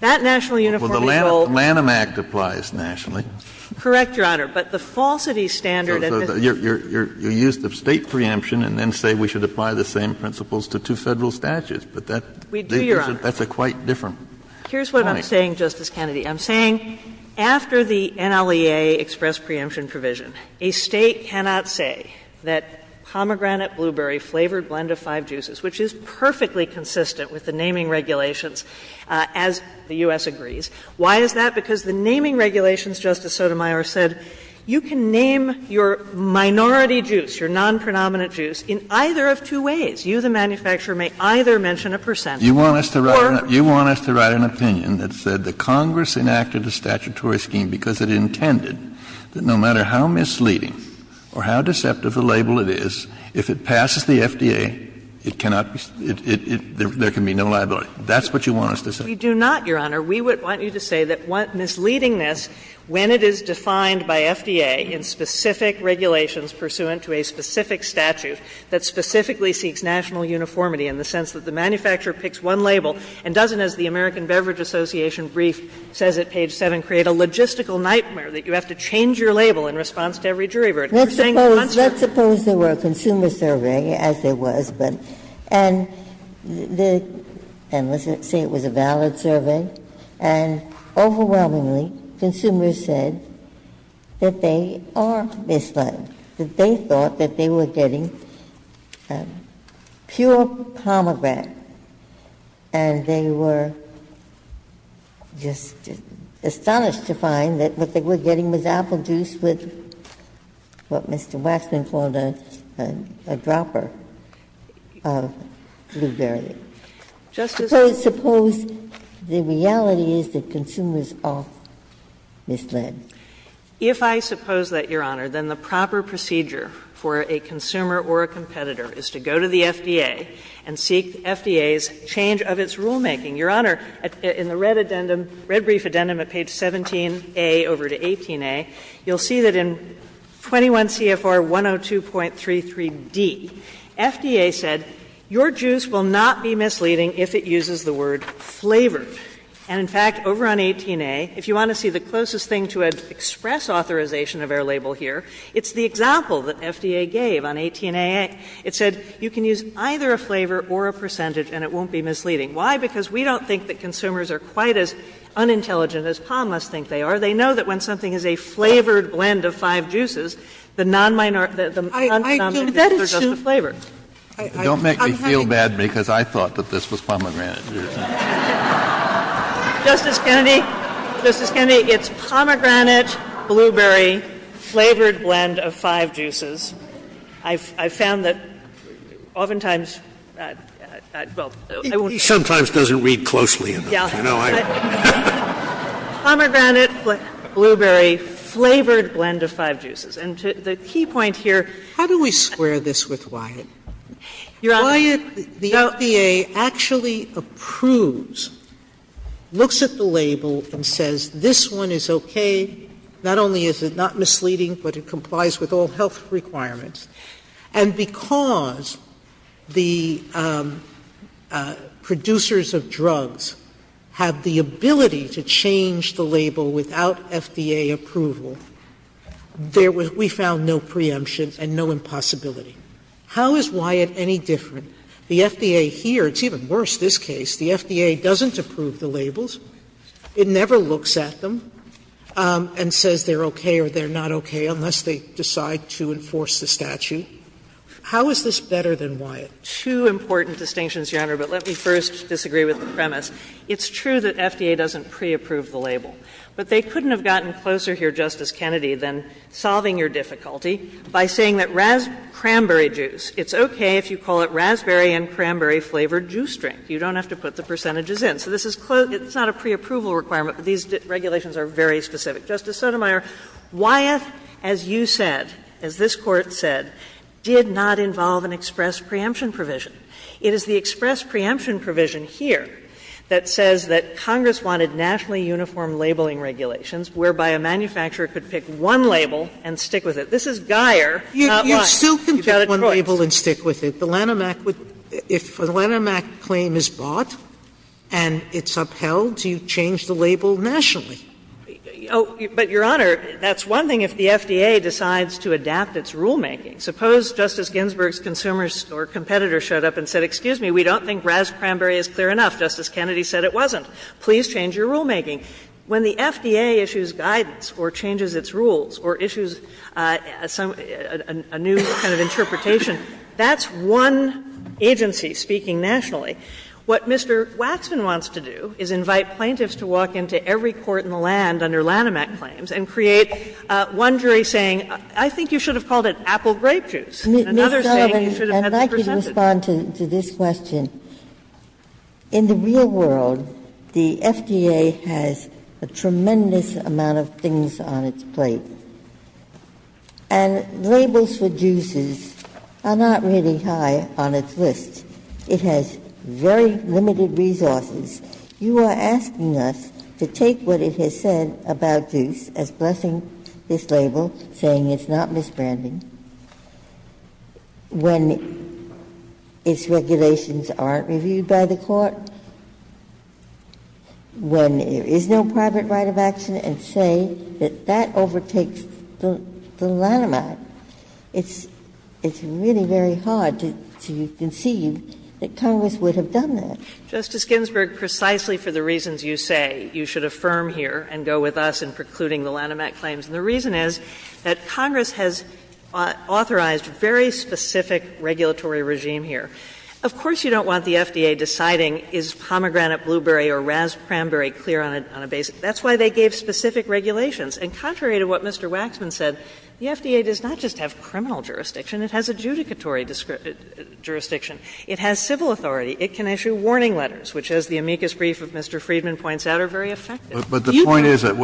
That national uniformity will be used. Kennedy, Well, the Lanham Act applies nationally. Kagan, Correct, Your Honor. But the falsity standard and the State preemption and then say we should apply the same principles to two Federal statutes, but that's a quite different point. Kagan, Here's what I'm saying, Justice Kennedy. I'm saying after the NLEA express preemption provision, a State cannot say that pomegranate, blueberry flavored blend of five juices, which is perfectly consistent with the naming regulations, as the U.S. agrees. Why is that? Because the naming regulations, Justice Sotomayor said, you can name your minority juice, your non-predominant juice, in either of two ways. You, the manufacturer, may either mention a percentage or. Kennedy, You want us to write an opinion that said that Congress enacted a statutory scheme because it intended that no matter how misleading or how deceptive the label it is, if it passes the FDA, it cannot be, it, it, it, there can be no liability. That's what you want us to say? Kagan, We do not, Your Honor. We would want you to say that misleadingness, when it is defined by FDA in specific regulations pursuant to a specific statute that specifically seeks national uniformity in the sense that the manufacturer picks one label and doesn't, as the American Beverage Association brief says at page 7, create a logistical nightmare that you have to change your label in response to every jury verdict. Ginsburg, Let's suppose, let's suppose there were a consumer survey, as there was, but, and the, and let's say it was a valid survey, and overwhelmingly consumers said that they are misled, that they thought that they were getting pure pomegranate, and they were just astonished to find that what they were getting was apple juice with what Mr. Waxman called a, a dropper of blueberry. Suppose, suppose the reality is that consumers are misled. Kagan, If I suppose that, Your Honor, then the proper procedure for a consumer or a competitor is to go to the FDA and seek the FDA's change of its rulemaking. Your Honor, in the red addendum, red brief addendum at page 17a over to 18a, you'll see that in 21 CFR 102.33d, FDA said your juice will not be misleading if it uses the word flavor. And, in fact, over on 18a, if you want to see the closest thing to an express authorization of our label here, it's the example that FDA gave on 18a. It said you can use either a flavor or a percentage and it won't be misleading. Why? Because we don't think that consumers are quite as unintelligent as POMLUS think they are. They know that when something is a flavored blend of five juices, the non-minor the non-competitor is just the flavor. Sotomayor, don't make me feel bad, because I thought that this was pomegranate. Justice Kennedy, Justice Kennedy, it's pomegranate, blueberry, flavored blend of five juices. I've found that oftentimes, well, I won't. It sometimes doesn't read closely enough, you know. Pomegranate, blueberry, flavored blend of five juices. And the key point here is that's not misleading, but it complies with all health requirements. Sotomayor, the FDA actually approves, looks at the label and says, this one is okay. Not only is it not misleading, but it complies with all health requirements. And because the producers of drugs have the ability to change the label without FDA approval, there was we found no preemption and no impossibility. How is Wyatt any different? The FDA here, it's even worse this case, the FDA doesn't approve the labels. It never looks at them and says they're okay or they're not okay, unless they decide to enforce the statute. How is this better than Wyatt? Two important distinctions, Your Honor, but let me first disagree with the premise. It's true that FDA doesn't pre-approve the label, but they couldn't have gotten closer here, Justice Kennedy, than solving your difficulty by saying that raspberry juice, it's okay if you call it raspberry and cranberry-flavored juice drink. You don't have to put the percentages in. So this is close, it's not a pre-approval requirement, but these regulations are very specific. Justice Sotomayor, Wyatt, as you said, as this Court said, did not involve an express preemption provision. It is the express preemption provision here that says that Congress wanted nationally uniform labeling regulations whereby a manufacturer could pick one label and stick with it. Sotomayor, you've got it correct. Sotomayor, You still can pick one label and stick with it. The Lanham Act would — if a Lanham Act claim is bought and it's upheld, you change the label nationally. Oh, but, Your Honor, that's one thing if the FDA decides to adapt its rulemaking. Suppose Justice Ginsburg's consumers or competitors showed up and said, excuse me, we don't think raspberry is clear enough. Justice Kennedy said it wasn't. Please change your rulemaking. When the FDA issues guidance or changes its rules or issues some — a new kind of interpretation, that's one agency speaking nationally. What Mr. Waxman wants to do is invite plaintiffs to walk into every court in the land under Lanham Act claims and create one jury saying, I think you should have called it apple grape juice, and another saying you should have had that presented. Ms. Sullivan, and I can respond to this question. In the real world, the FDA has a tremendous amount of things on its plate. And labels for juices are not really high on its list. It has very limited resources. You are asking us to take what it has said about juice as blessing this label, saying it's not misbranding, when its regulations aren't reviewed by the court, when there is no private right of action, and say that that overtakes the Lanham Act. It's really very hard to conceive that Congress would have done that. Sullivan, Justice Ginsburg, precisely for the reasons you say, you should affirm here and go with us in precluding the Lanham Act claims. And the reason is that Congress has authorized very specific regulatory regime here. Of course you don't want the FDA deciding is pomegranate blueberry or raspberry clear on a basis. That's why they gave specific regulations. And contrary to what Mr. Waxman said, the FDA does not just have criminal jurisdiction, it has adjudicatory jurisdiction. It has civil authority. It can issue warning letters, which, as the amicus brief of Mr. Friedman points out, are very effective. Kennedy, but the point is that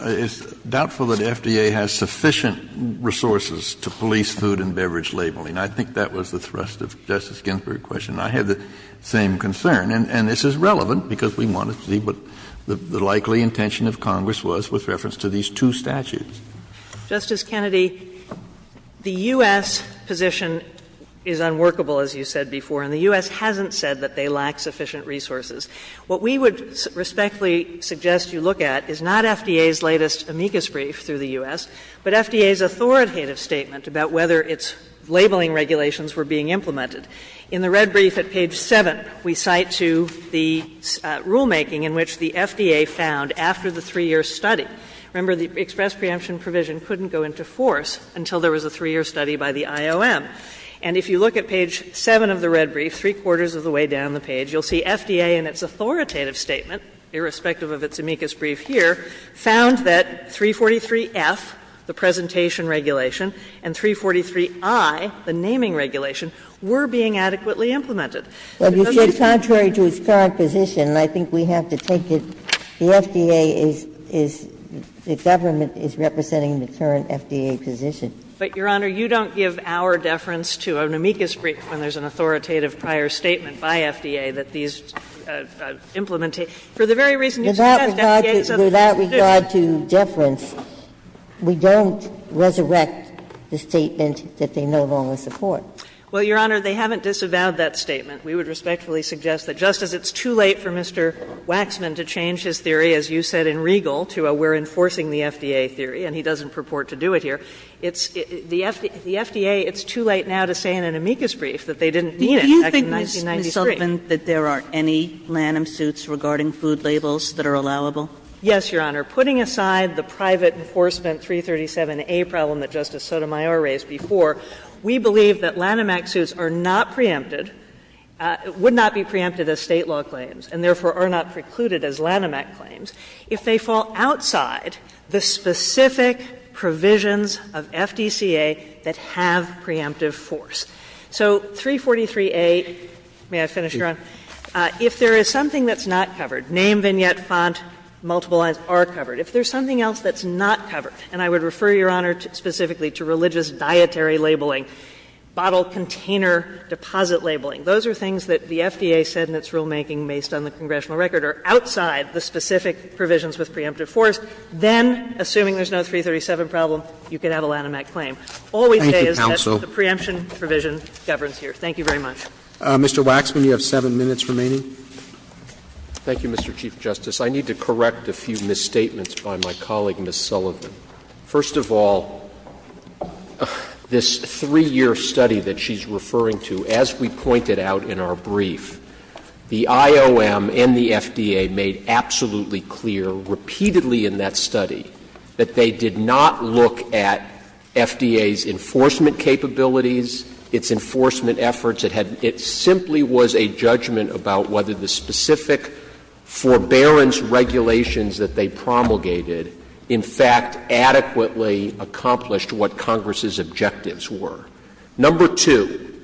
it's doubtful that the FDA has sufficient resources to police food and beverage labeling. I think that was the thrust of Justice Ginsburg's question. I have the same concern, and this is relevant, because we wanted to see what the likely intention of Congress was with reference to these two statutes. Justice Kennedy, the U.S. position is unworkable, as you said before, and the U.S. hasn't said that they lack sufficient resources. What we would respectfully suggest you look at is not FDA's latest amicus brief through the U.S., but FDA's authoritative statement about whether its labeling regulations were being implemented. In the red brief at page 7, we cite to the rulemaking in which the FDA found after the 3-year study. Remember, the express preemption provision couldn't go into force until there was a 3-year study by the IOM. And if you look at page 7 of the red brief, three-quarters of the way down the page, you'll see FDA in its authoritative statement, irrespective of its amicus brief here, found that 343F, the presentation regulation, and 343I, the naming regulation, were being adequately implemented. Ginsburg-McCarran, Jr. Well, you see, contrary to its current position, and I think we have to take it, the FDA is the government is representing the current FDA position. But, Your Honor, you don't give our deference to an amicus brief when there's an authoritative prior statement by FDA that these implementations, for the very reason you said, FDA's other position. Ginsburg-McCarran, Jr. Without regard to deference, we don't resurrect the statement that they no longer support. Well, Your Honor, they haven't disavowed that statement. We would respectfully suggest that just as it's too late for Mr. Waxman to change his theory, as you said in Regal, to a we're enforcing the FDA theory, and he doesn't purport to do it here, it's the FDA, it's too late now to say in an amicus brief that they didn't mean it back in 1993. Sotomayor, that there are any Lanham suits regarding food labels that are allowable? Yes, Your Honor. Putting aside the private enforcement 337A problem that Justice Sotomayor raised before, we believe that Lanham Act suits are not preempted, would not be preempted as State law claims, and therefore are not precluded as Lanham Act claims, if they fall outside the specific provisions of FDCA that have preemptive force. So 343A, may I finish, Your Honor? If there is something that's not covered, name, vignette, font, multiple lines are covered, if there's something else that's not covered, and I would refer, Your Honor, specifically to religious dietary labeling, bottle container deposit labeling. Those are things that the FDA said in its rulemaking based on the congressional record are outside the specific provisions with preemptive force. Then, assuming there's no 337 problem, you can have a Lanham Act claim. All we say is that the preemption provision governs here. Thank you very much. Mr. Waxman, you have 7 minutes remaining. Thank you, Mr. Chief Justice. I need to correct a few misstatements by my colleague, Ms. Sullivan. First of all, this 3-year study that she's referring to, as we pointed out in our brief, the IOM and the FDA made absolutely clear, repeatedly in that study, that they did not look at FDA's enforcement capabilities, its enforcement efforts. It had — it simply was a judgment about whether the specific forbearance regulations that they promulgated, in fact, adequately accomplished what Congress's objectives were. Number two,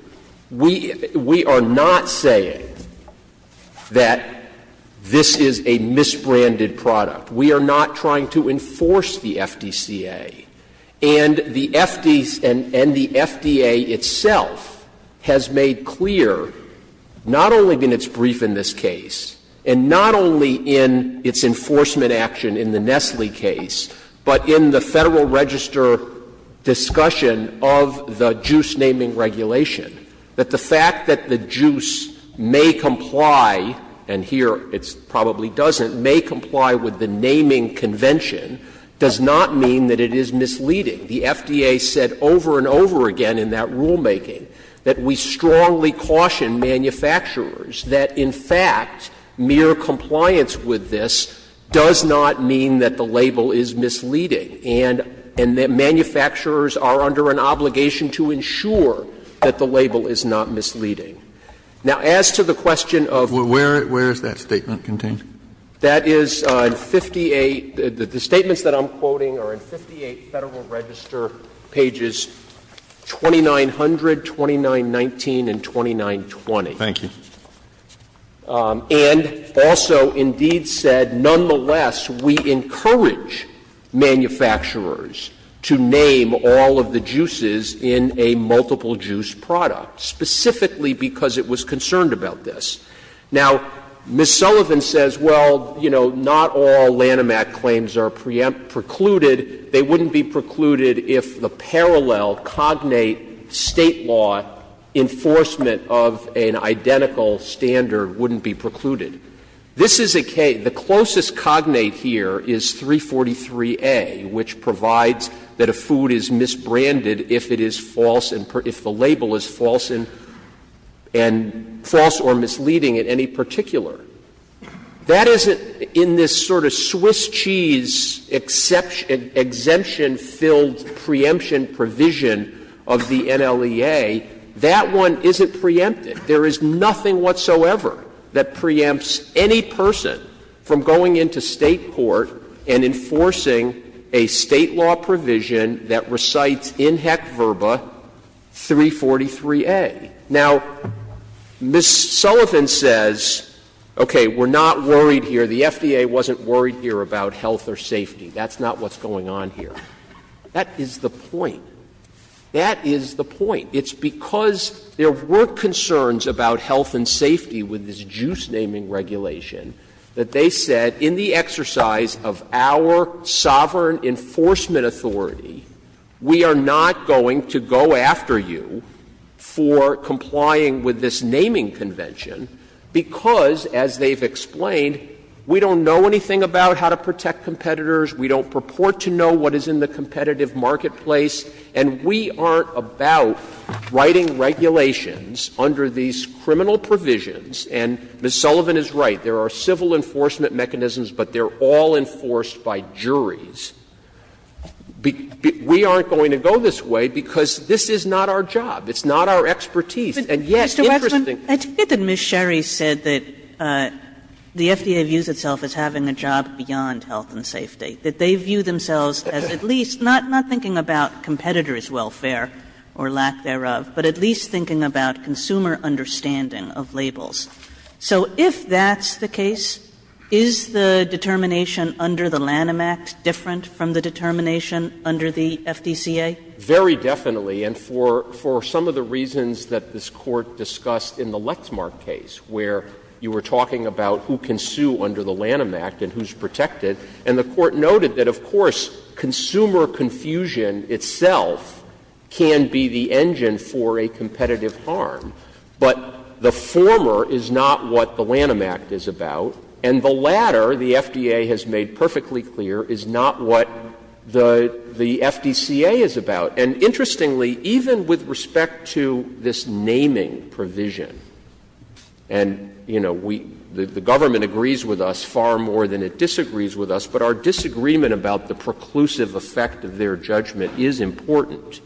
we are not saying that this is a misbranded product. We are not trying to enforce the FDCA. And the FDA itself has made clear, not only in its brief in this case, and not only in its enforcement action in the Nestle case, but in the Federal Register discussion of the JUICE naming regulation, that the fact that the JUICE may comply, and here it probably doesn't, may comply with the naming convention, does not mean that it is misleading. The FDA said over and over again in that rulemaking that we strongly caution manufacturers that, in fact, mere compliance with this does not mean that the label is misleading, and that manufacturers are under an obligation to ensure that the label is not misleading. Now, as to the question of the other questions, I'm going to go back to the Federal Register. The statements that I'm quoting are in 58 Federal Register pages 2900, 2919, and 2920. Roberts And also, indeed, said nonetheless, we encourage manufacturers to name all of the JUICEs in a multiple-juice product, specifically because it was concerned about this. Now, Ms. Sullivan says, well, you know, not all Lanham Act claims are precluded. They wouldn't be precluded if the parallel cognate State law enforcement of an identical standard wouldn't be precluded. This is a case the closest cognate here is 343A, which provides that a food is misbranded if it is false and if the label is false and false or misleading in any particular. That isn't in this sort of Swiss cheese exemption-filled preemption provision of the NLEA. That one isn't preempted. There is nothing whatsoever that preempts any person from going into State court and enforcing a State law provision that recites in heck verba 343A. Now, Ms. Sullivan says, okay, we're not worried here, the FDA wasn't worried here about health or safety. That's not what's going on here. That is the point. That is the point. It's because there were concerns about health and safety with this JUICE naming regulation that they said in the exercise of our sovereign enforcement authority, we are not going to go after you for complying with this naming convention because, as they've explained, we don't know anything about how to protect competitors, we don't purport to know what is in the competitive marketplace, and we aren't about writing regulations under these criminal provisions. And Ms. Sullivan is right. There are civil enforcement mechanisms, but they're all enforced by juries. We aren't going to go this way because this is not our job, it's not our expertise, and yet interesting. Kagan-Marinson, I think that Ms. Sherry said that the FDA views itself as having a job beyond health and safety, that they view themselves as at least not thinking about competitors' welfare or lack thereof, but at least thinking about consumer understanding of labels. So if that's the case, is the determination under the Lanham Act different from the determination under the FDCA? Very definitely, and for some of the reasons that this Court discussed in the Lexmark case, where you were talking about who can sue under the Lanham Act and who's protected, and the Court noted that, of course, consumer confusion itself can be the engine for a competitive harm. But the former is not what the Lanham Act is about, and the latter, the FDA has made perfectly clear, is not what the FDCA is about. And interestingly, even with respect to this naming provision, and, you know, we — the government agrees with us far more than it disagrees with us, but our disagreement about the preclusive effect of their judgment is important.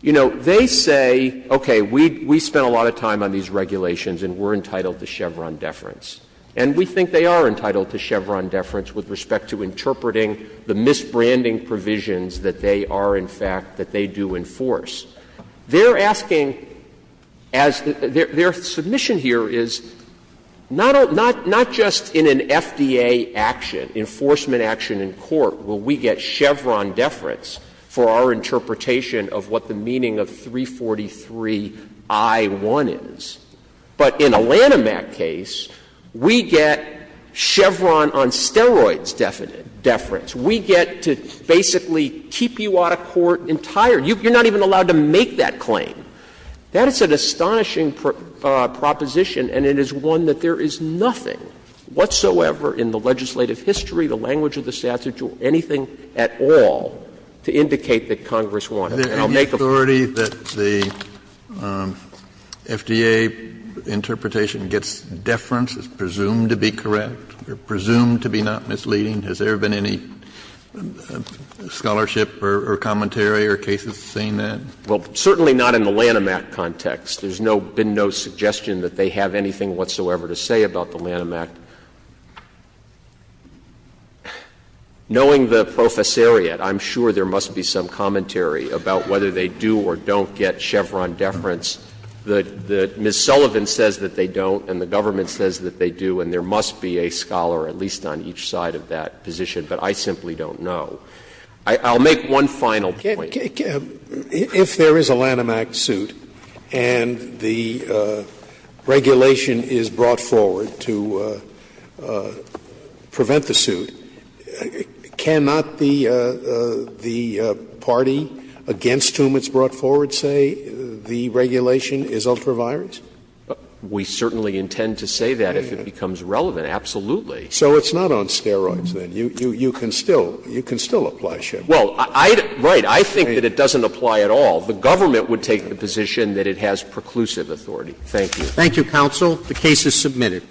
You know, they say, okay, we spent a lot of time on these regulations and we're entitled to Chevron deference, and we think they are entitled to Chevron deference with respect to interpreting the misbranding provisions that they are, in fact, that they do enforce. They're asking, as their submission here is, not just in an FDA action, enforcement action in court, will we get Chevron deference for our interpretation of what the meaning of 343i1 is, but in a Lanham Act case, we get Chevron on steroids deference. We get to basically keep you out of court entire. You're not even allowed to make that claim. That is an astonishing proposition, and it is one that there is nothing whatsoever in the legislative history, the language of the statute, or anything at all to indicate that Congress wanted. And I'll make a point. Kennedy, the authority that the FDA interpretation gets deference is presumed to be correct, presumed to be not misleading? Has there been any scholarship or commentary or cases saying that? Well, certainly not in the Lanham Act context. There's no — been no suggestion that they have anything whatsoever to say about the Lanham Act. Knowing the professoriate, I'm sure there must be some commentary about whether they do or don't get Chevron deference. Ms. Sullivan says that they don't, and the government says that they do, and there must be a scholar at least on each side of that position, but I simply don't know. I'll make one final point. If there is a Lanham Act suit and the regulation is brought forward to prevent the suit, cannot the party against whom it's brought forward say the regulation is ultraviolet? We certainly intend to say that if it becomes relevant, absolutely. So it's not on steroids, then? You can still apply Chevron. Well, I — right. I think that it doesn't apply at all. The government would take the position that it has preclusive authority. Thank you. Thank you, counsel. The case is submitted.